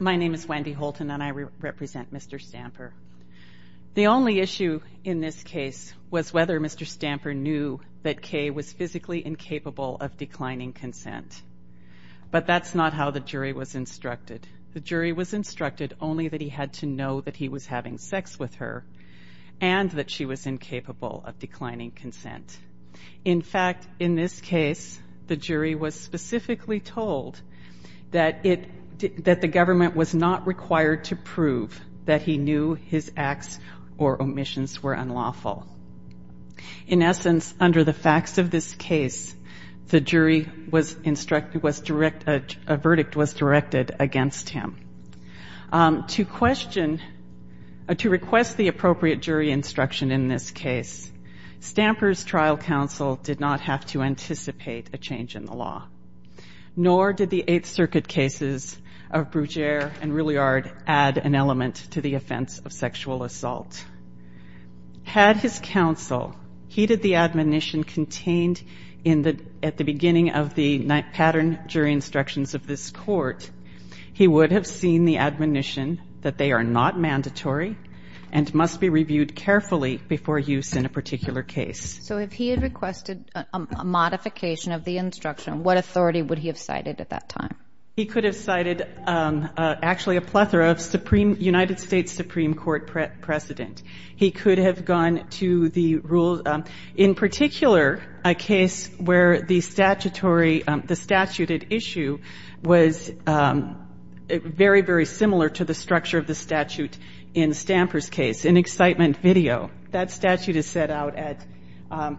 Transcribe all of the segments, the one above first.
My name is Wendy Holton and I represent Mr. Stamper. The only issue in this case was whether Mr. Stamper knew that Kay was physically incapable of declining consent. But that's not how the jury was instructed. The jury was instructed only that he had to know that he was having sex with her and that she was incapable of declining consent. In fact, in this case, the jury was specifically told that the government was not required to prove that he knew his acts or omissions were unlawful. In essence, under the facts of this case, a verdict was directed against him. To request the appropriate jury instruction in this case, Stamper's trial counsel did not have to anticipate a change in the law. Nor did the Eighth Circuit cases of Brugere and Rilliard add an element to the offense of sexual assault. Had his counsel heeded the admonition contained at the beginning of the pattern jury instructions of this court, he would have seen the admonition that they are not mandatory and must be reviewed carefully before use in a particular case. So if he had requested a modification of the instruction, what authority would he have cited at that time? He could have cited actually a plethora of United States Supreme Court precedent. He could have gone to the rules. In particular, a case where the statutory, the statute at issue was very, very similar to the structure of the statute in Stamper's case, an excitement video. That statute is set out at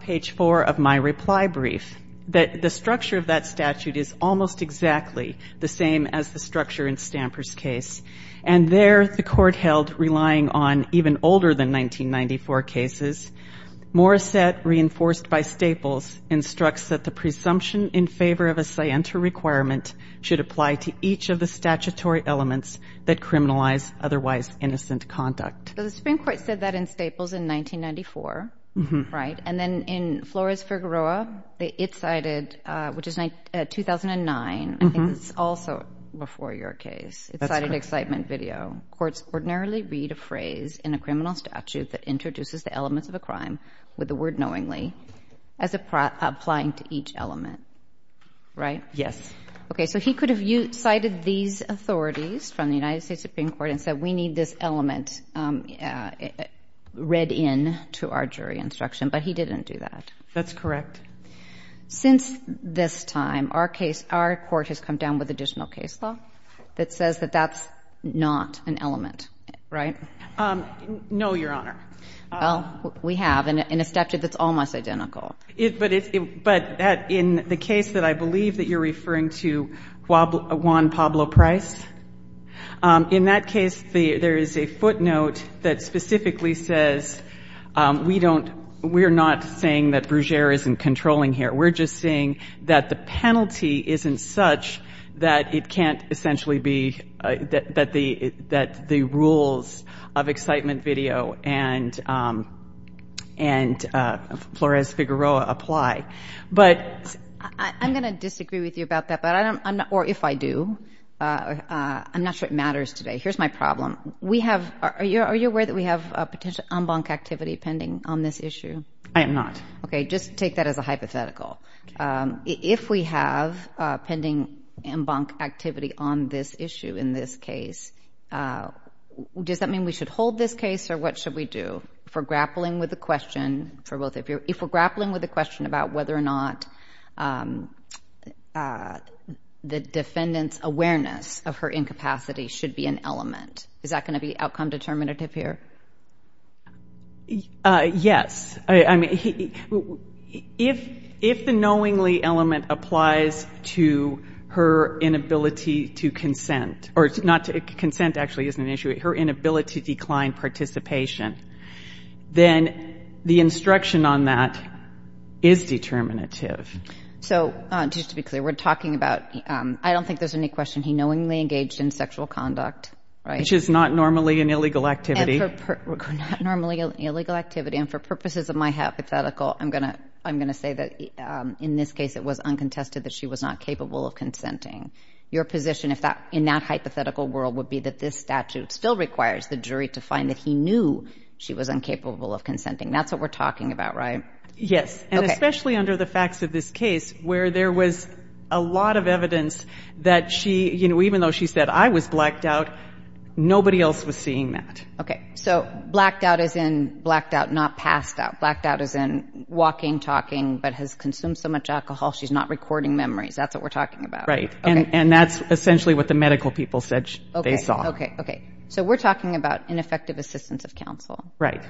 page four of my reply brief, that the structure of that statute is almost exactly the same as the structure in Stamper's case. And there the court held, relying on even older than 1994 cases, Morissette, reinforced by Staples, instructs that the presumption in favor of a scienter requirement should apply to each of the statutory elements that criminalize otherwise innocent conduct. So the Supreme Court said that in Staples in 1994, right? And then in Flores-Fergueroa, it cited, which is 2009, I think it's also before your case, it cited excitement video. Courts ordinarily read a phrase in a criminal statute that introduces the elements of a crime with the word knowingly as applying to each element, right? Yes. Okay, so he could have cited these authorities from the United States Supreme Court and said we need this element read in to our jury instruction, but he didn't do that. That's correct. Since this time, our case, our court has come down with additional case law that says that that's not an element, right? No, Your Honor. Well, we have in a statute that's almost identical. But in the case that I believe that you're referring to, Juan Pablo Price, in that case there is a footnote that specifically says we're not saying that Brugere isn't controlling here. We're just saying that the penalty isn't such that it can't essentially be that the rules of excitement video and Flores-Figueroa apply. I'm going to disagree with you about that, or if I do. I'm not sure it matters today. Here's my problem. Are you aware that we have potential en banc activity pending on this issue? I am not. Okay, just take that as a hypothetical. If we have pending en banc activity on this issue in this case, does that mean we should hold this case, or what should we do? If we're grappling with the question about whether or not the defendant's awareness of her incapacity should be an element, is that going to be outcome determinative here? Yes. I mean, if the knowingly element applies to her inability to consent, or not to consent actually isn't an issue, her inability to decline participation, then the instruction on that is determinative. So just to be clear, we're talking about, I don't think there's any question he knowingly engaged in sexual conduct, right? Which is not normally an illegal activity. Not normally an illegal activity, and for purposes of my hypothetical, I'm going to say that in this case it was uncontested that she was not capable of consenting. Your position in that hypothetical world would be that this statute still requires the jury to find that he knew she was incapable of consenting. That's what we're talking about, right? Yes, and especially under the facts of this case where there was a lot of evidence that she, even though she said, I was blacked out, nobody else was seeing that. Okay, so blacked out as in blacked out, not passed out. Blacked out as in walking, talking, but has consumed so much alcohol she's not recording memories. That's what we're talking about. Right, and that's essentially what the medical people said they saw. Okay, so we're talking about ineffective assistance of counsel. Right.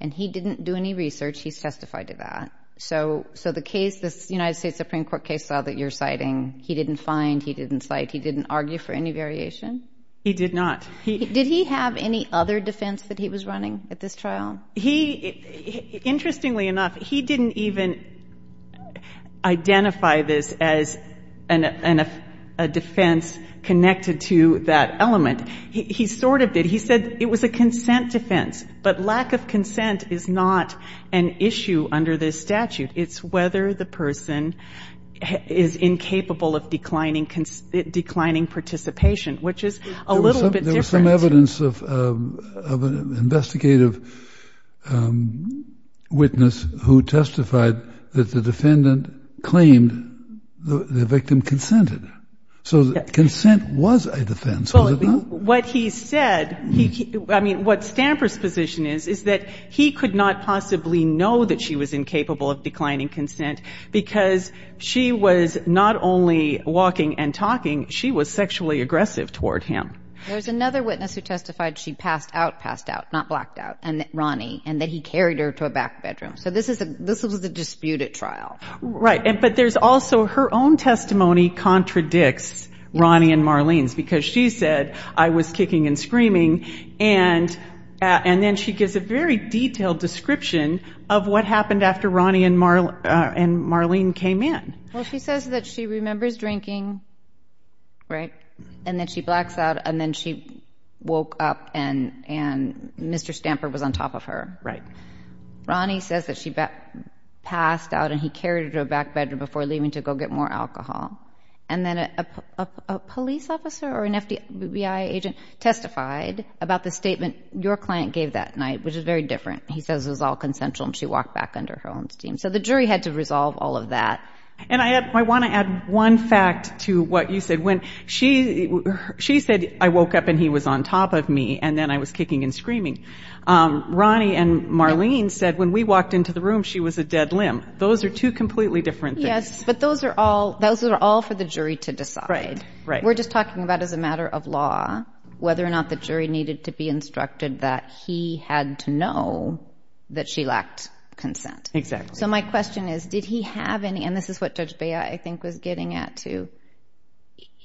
And he didn't do any research. He's testified to that. So the case, this United States Supreme Court case that you're citing, he didn't find, he didn't cite, he didn't argue for any variation? He did not. Did he have any other defense that he was running at this trial? He, interestingly enough, he didn't even identify this as a defense connected to that element. He sort of did. He said it was a consent defense, but lack of consent is not an issue under this statute. It's whether the person is incapable of declining participation, which is a little bit different. There's some evidence of an investigative witness who testified that the defendant claimed the victim consented. So consent was a defense, was it not? What he said, I mean, what Stamper's position is, is that he could not possibly know that she was incapable of declining consent because she was not only walking and talking, she was sexually aggressive toward him. There's another witness who testified she passed out, passed out, not blacked out, and that Ronnie, and that he carried her to a back bedroom. So this was a disputed trial. Right, but there's also her own testimony contradicts Ronnie and Marlene's because she said, I was kicking and screaming, and then she gives a very detailed description of what happened after Ronnie and Marlene came in. Well, she says that she remembers drinking. Right, and then she blacks out, and then she woke up, and Mr. Stamper was on top of her. Right. Ronnie says that she passed out, and he carried her to a back bedroom before leaving to go get more alcohol. And then a police officer or an FBI agent testified about the statement your client gave that night, which is very different. He says it was all consensual, and she walked back under her own steam. So the jury had to resolve all of that. And I want to add one fact to what you said. When she said, I woke up and he was on top of me, and then I was kicking and screaming, Ronnie and Marlene said when we walked into the room, she was a dead limb. Those are two completely different things. Yes, but those are all for the jury to decide. Right, right. We're just talking about as a matter of law whether or not the jury needed to be instructed that he had to know that she lacked consent. Exactly. So my question is, did he have any, and this is what Judge Bea, I think, was getting at, too.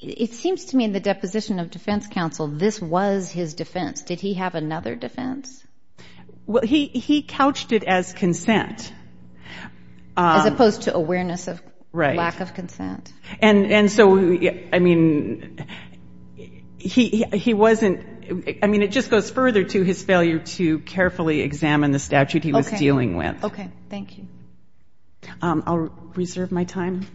It seems to me in the deposition of defense counsel, this was his defense. Did he have another defense? Well, he couched it as consent. As opposed to awareness of lack of consent. And so, I mean, he wasn't, I mean, it just goes further to his failure to carefully examine the statute he was dealing with. Okay, thank you. I'll reserve my time.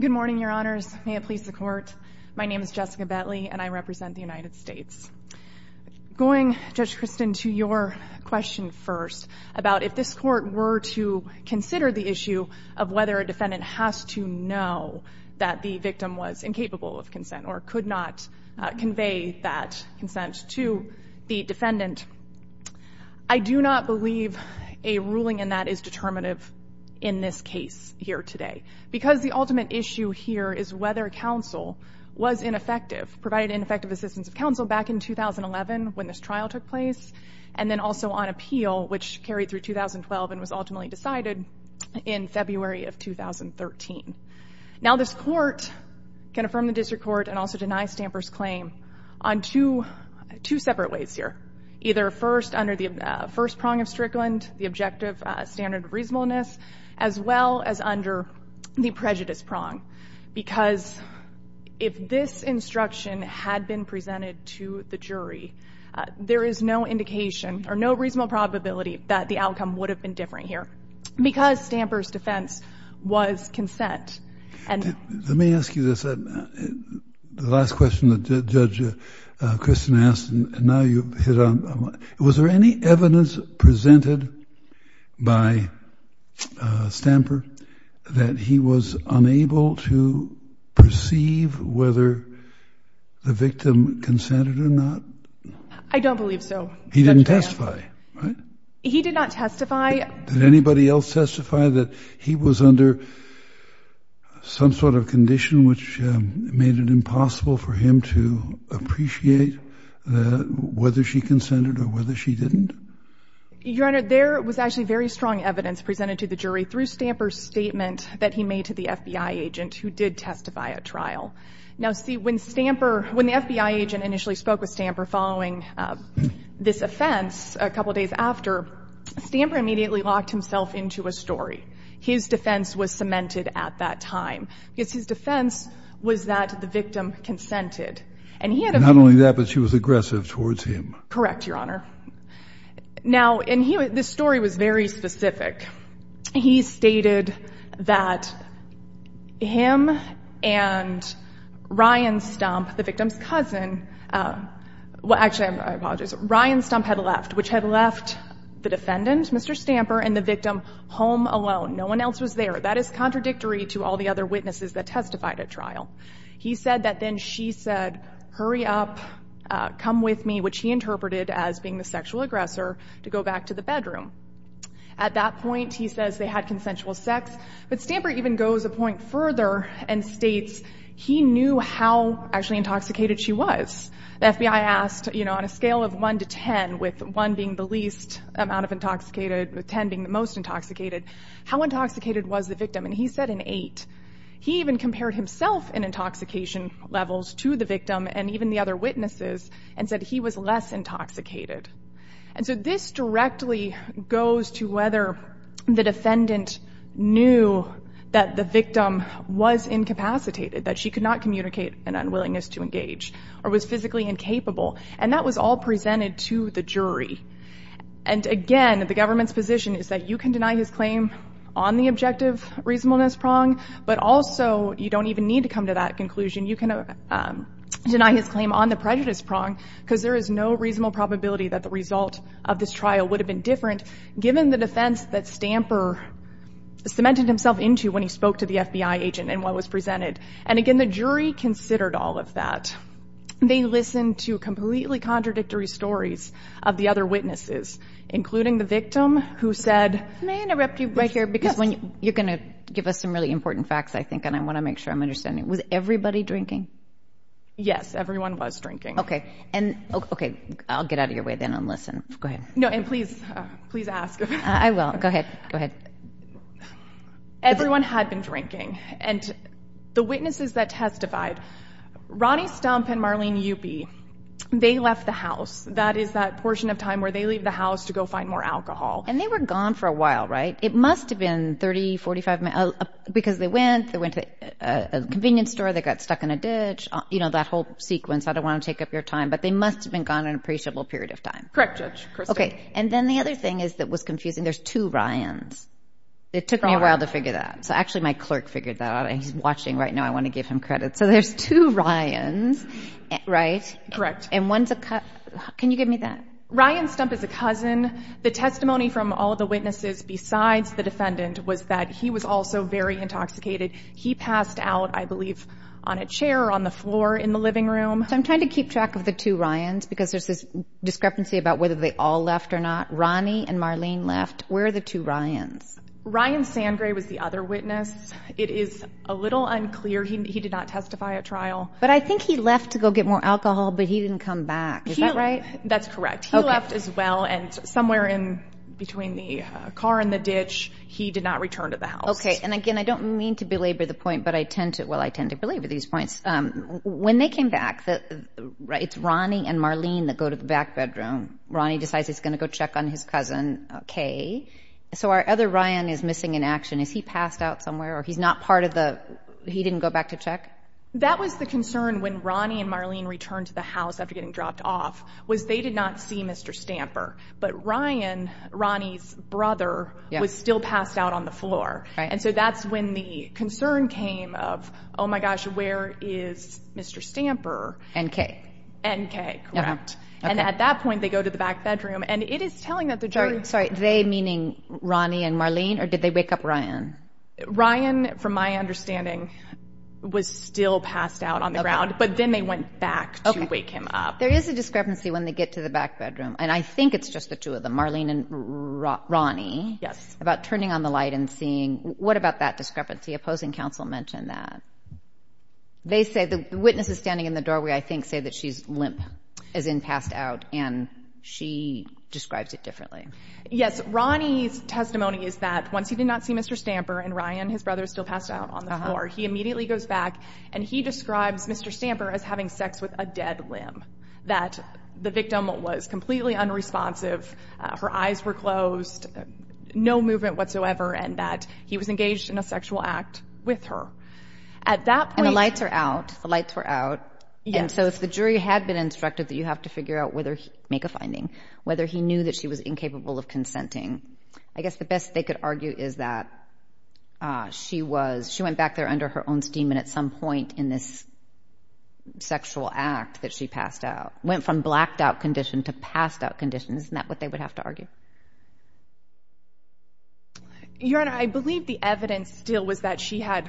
Good morning, Your Honors. May it please the Court. My name is Jessica Bentley, and I represent the United States. Going, Judge Christin, to your question first, about if this Court were to consider the issue of whether a defendant has to know that the victim was incapable of consent or could not convey that consent to the defendant, I do not believe a ruling in that is determinative in this case here today. Because the ultimate issue here is whether counsel was ineffective, provided ineffective assistance of counsel back in 2011 when this trial took place, and then also on appeal, which carried through 2012 and was ultimately decided in February of 2013. Now, this Court can affirm the District Court and also deny Stamper's claim on two separate ways here, either first under the first prong of Strickland, the objective standard of reasonableness, as well as under the prejudice prong. Because if this instruction had been presented to the jury, there is no indication or no reasonable probability that the outcome would have been different here. Because Stamper's defense was consent. Let me ask you this. The last question that Judge Christin asked, and now you've hit on it. Was there any evidence presented by Stamper that he was unable to perceive whether the victim consented or not? I don't believe so. He didn't testify, right? He did not testify. Did anybody else testify that he was under some sort of condition, which made it impossible for him to appreciate whether she consented or whether she didn't? Your Honor, there was actually very strong evidence presented to the jury through Stamper's statement that he made to the FBI agent, who did testify at trial. Now, see, when Stamper, when the FBI agent initially spoke with Stamper following this offense, a couple days after, Stamper immediately locked himself into a story. His defense was cemented at that time. Because his defense was that the victim consented. Not only that, but she was aggressive towards him. Correct, Your Honor. Now, this story was very specific. Well, actually, I apologize. Ryan Stump had left, which had left the defendant, Mr. Stamper, and the victim home alone. No one else was there. That is contradictory to all the other witnesses that testified at trial. He said that then she said, hurry up, come with me, which he interpreted as being the sexual aggressor, to go back to the bedroom. At that point, he says they had consensual sex. But Stamper even goes a point further and states he knew how actually intoxicated she was. The FBI asked, you know, on a scale of 1 to 10, with 1 being the least amount of intoxicated, with 10 being the most intoxicated, how intoxicated was the victim. And he said an 8. He even compared himself in intoxication levels to the victim and even the other witnesses and said he was less intoxicated. And so this directly goes to whether the defendant knew that the victim was incapacitated, that she could not communicate an unwillingness to engage or was physically incapable. And that was all presented to the jury. And, again, the government's position is that you can deny his claim on the objective reasonableness prong, but also you don't even need to come to that conclusion. You can deny his claim on the prejudice prong because there is no reasonable probability that the result of this trial would have been different, given the defense that Stamper cemented himself into when he spoke to the FBI agent and what was presented. And, again, the jury considered all of that. They listened to completely contradictory stories of the other witnesses, including the victim who said, May I interrupt you right here because you're going to give us some really important facts, I think, and I want to make sure I'm understanding. Was everybody drinking? Yes. Everyone was drinking. Okay. And, okay, I'll get out of your way then and listen. Go ahead. No, and please, please ask. I will. Go ahead. Go ahead. Everyone had been drinking. And the witnesses that testified, Ronnie Stump and Marlene Yupi, they left the house. That is that portion of time where they leave the house to go find more alcohol. And they were gone for a while, right? It must have been 30, 45 minutes because they went, they went to a convenience store, they got stuck in a ditch, you know, that whole sequence. I don't want to take up your time, but they must have been gone an appreciable period of time. Correct, Judge. Okay. And then the other thing that was confusing, there's two Ryans. It took me a while to figure that out. So, actually, my clerk figured that out. He's watching right now. I want to give him credit. So there's two Ryans, right? Correct. And one's a cousin. Can you give me that? Ryan Stump is a cousin. The testimony from all of the witnesses besides the defendant was that he was also very intoxicated. He passed out, I believe, on a chair or on the floor in the living room. So I'm trying to keep track of the two Ryans because there's this discrepancy about whether they all left or not. Ronnie and Marlene left. Where are the two Ryans? Ryan Sangre was the other witness. It is a little unclear. He did not testify at trial. But I think he left to go get more alcohol, but he didn't come back. Is that right? That's correct. He left as well, and somewhere in between the car and the ditch, he did not return to the house. Okay, and, again, I don't mean to belabor the point, but I tend to belabor these points. When they came back, it's Ronnie and Marlene that go to the back bedroom. Ronnie decides he's going to go check on his cousin. Okay. So our other Ryan is missing in action. Is he passed out somewhere or he's not part of the he didn't go back to check? That was the concern when Ronnie and Marlene returned to the house after getting dropped off was they did not see Mr. Stamper. But Ryan, Ronnie's brother, was still passed out on the floor. And so that's when the concern came of, oh, my gosh, where is Mr. Stamper? N.K. N.K., correct. And at that point, they go to the back bedroom. And it is telling that the jury. Sorry, they meaning Ronnie and Marlene, or did they wake up Ryan? Ryan, from my understanding, was still passed out on the ground. But then they went back to wake him up. Okay. There is a discrepancy when they get to the back bedroom, and I think it's just the two of them, Marlene and Ronnie. Yes. About turning on the light and seeing. What about that discrepancy? Opposing counsel mentioned that. They say the witnesses standing in the doorway, I think, say that she's limp, as in passed out, and she describes it differently. Yes. Ronnie's testimony is that once he did not see Mr. Stamper and Ryan, his brother, is still passed out on the floor, he immediately goes back and he describes Mr. Stamper as having sex with a dead limb, that the victim was completely unresponsive, her eyes were closed, no movement whatsoever, and that he was engaged in a sexual act with her. At that point. And the lights are out. The lights were out. Yes. And so if the jury had been instructed that you have to make a finding, whether he knew that she was incapable of consenting, I guess the best they could argue is that she went back there under her own steam and at some point in this sexual act that she passed out, went from blacked out condition to passed out condition. Your Honor, I believe the evidence still was that she had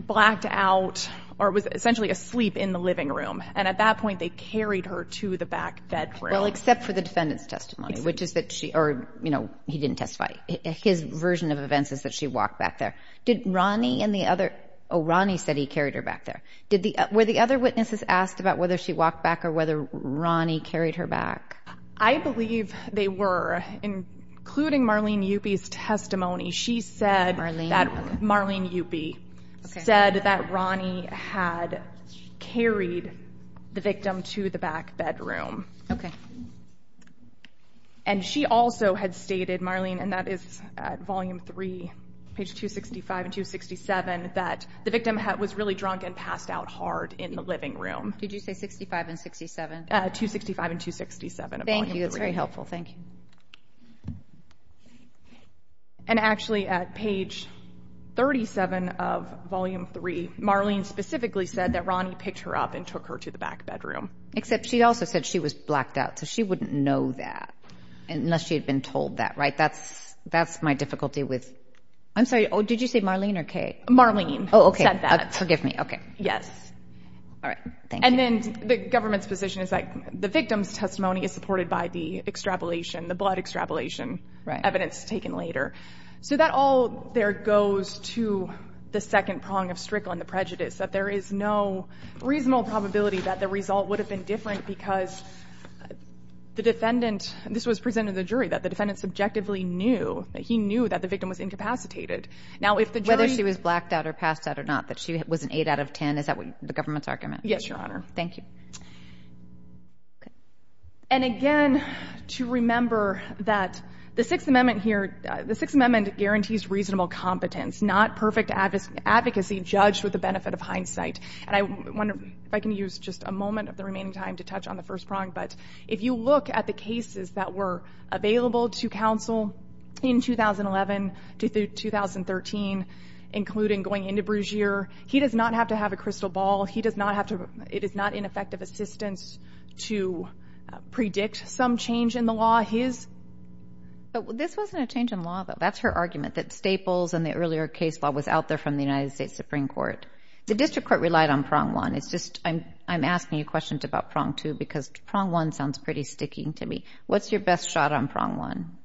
blacked out or was essentially asleep in the living room, and at that point they carried her to the back bedroom. Well, except for the defendant's testimony, which is that she, or, you know, he didn't testify. His version of events is that she walked back there. Did Ronnie and the other, oh, Ronnie said he carried her back there. Were the other witnesses asked about whether she walked back or whether Ronnie carried her back? I believe they were, including Marlene Yupi's testimony. She said that Marlene Yupi said that Ronnie had carried the victim to the back bedroom. Okay. And she also had stated, Marlene, and that is at volume three, page 265 and 267, that the victim was really drunk and passed out hard in the living room. Did you say 65 and 67? 265 and 267 of volume three. Thank you. That's very helpful. Thank you. And actually at page 37 of volume three, Marlene specifically said that Ronnie picked her up and took her to the back bedroom. Except she also said she was blacked out, so she wouldn't know that unless she had been told that, right? That's my difficulty with – I'm sorry, did you say Marlene or Kay? Marlene said that. Oh, okay. Forgive me. Okay. Yes. All right. Thank you. And then the government's position is that the victim's testimony is supported by the extrapolation, the blood extrapolation evidence taken later. So that all there goes to the second prong of Strickland, the prejudice, that there is no reasonable probability that the result would have been different because the defendant – this was presented to the jury, that the defendant subjectively knew, that he knew that the victim was incapacitated. Now, if the jury – Whether she was blacked out or passed out or not, that she was an 8 out of 10, is that the government's argument? Yes, Your Honor. Thank you. And again, to remember that the Sixth Amendment here – the Sixth Amendment guarantees reasonable competence, not perfect advocacy judged with the benefit of hindsight. And I wonder if I can use just a moment of the remaining time to touch on the first prong, but if you look at the cases that were available to counsel in 2011 to 2013, including going into Brugere, he does not have to have a crystal ball. He does not have to – it is not ineffective assistance to predict some change in the law. His – But this wasn't a change in law, though. That's her argument, that Staples and the earlier case law was out there from the United States Supreme Court. The district court relied on prong one. It's just I'm asking you questions about prong two because prong one sounds pretty sticky to me. What's your best shot on prong one?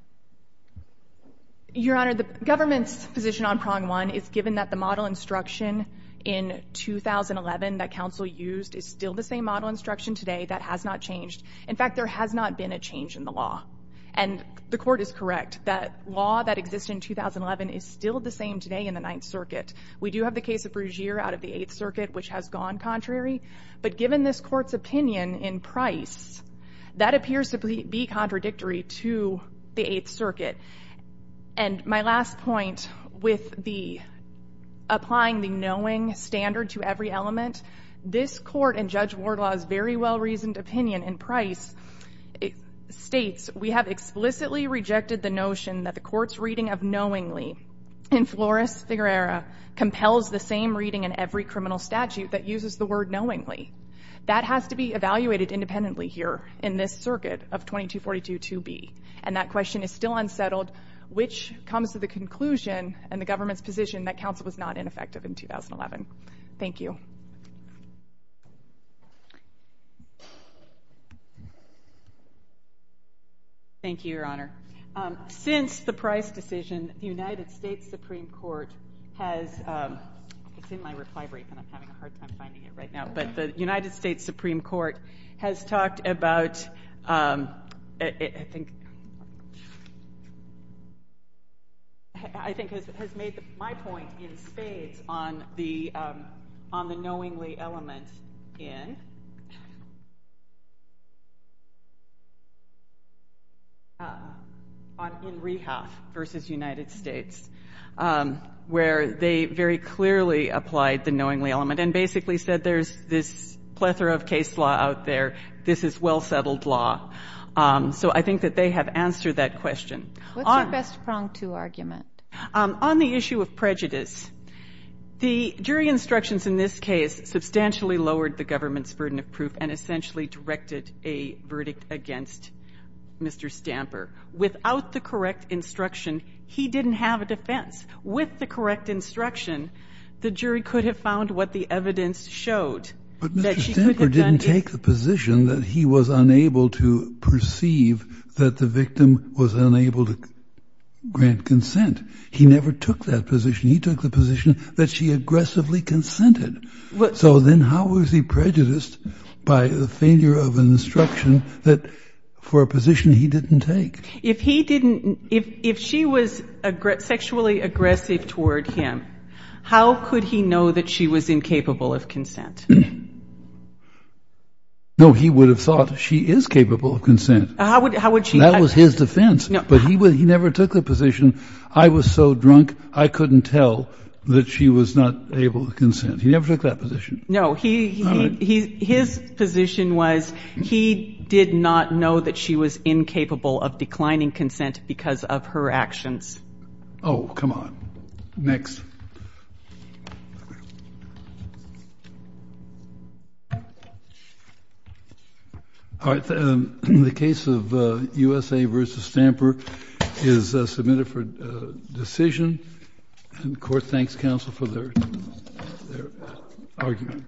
Your Honor, the government's position on prong one is, given that the model instruction in 2011 that counsel used is still the same model instruction today, that has not changed. In fact, there has not been a change in the law. And the Court is correct that law that existed in 2011 is still the same today in the Ninth Circuit. We do have the case of Brugere out of the Eighth Circuit, which has gone contrary. But given this Court's opinion in Price, that appears to be contradictory to the Eighth Circuit. And my last point with the – applying the knowing standard to every element, this Court and Judge Wardlaw's very well-reasoned opinion in Price states, we have explicitly rejected the notion that the Court's reading of knowingly in Flores v. Herrera compels the same reading in every criminal statute that uses the word knowingly. That has to be evaluated independently here in this circuit of 2242 2b. And that question is still unsettled, which comes to the conclusion and the government's position that counsel was not ineffective in 2011. Thank you. Thank you, Your Honor. Since the Price decision, the United States Supreme Court has – it's in my reply brief and I'm having a hard time finding it right now. But the United States Supreme Court has talked about – I think has made my point in spades on the knowingly element in Rehaf v. United States, where they very clearly applied the knowingly element and basically said there's this plethora of case law out there. This is well-settled law. So I think that they have answered that question. What's your best prong to argument? On the issue of prejudice, the jury instructions in this case substantially lowered the government's burden of proof and essentially directed a verdict against Mr. Stamper. Without the correct instruction, he didn't have a defense. With the correct instruction, the jury could have found what the evidence showed. But Mr. Stamper didn't take the position that he was unable to perceive that the victim was unable to grant consent. He never took that position. He took the position that she aggressively consented. So then how was he prejudiced by the failure of an instruction that – for a position he didn't take? If he didn't – if she was sexually aggressive toward him, how could he know that she was incapable of consent? No, he would have thought she is capable of consent. How would she – That was his defense. But he never took the position, I was so drunk, I couldn't tell that she was not able to consent. He never took that position. No, he – his position was he did not know that she was incapable of declining consent because of her actions. Oh, come on. Next. All right. The case of USA v. Stamper is submitted for decision. And the Court thanks counsel for their argument.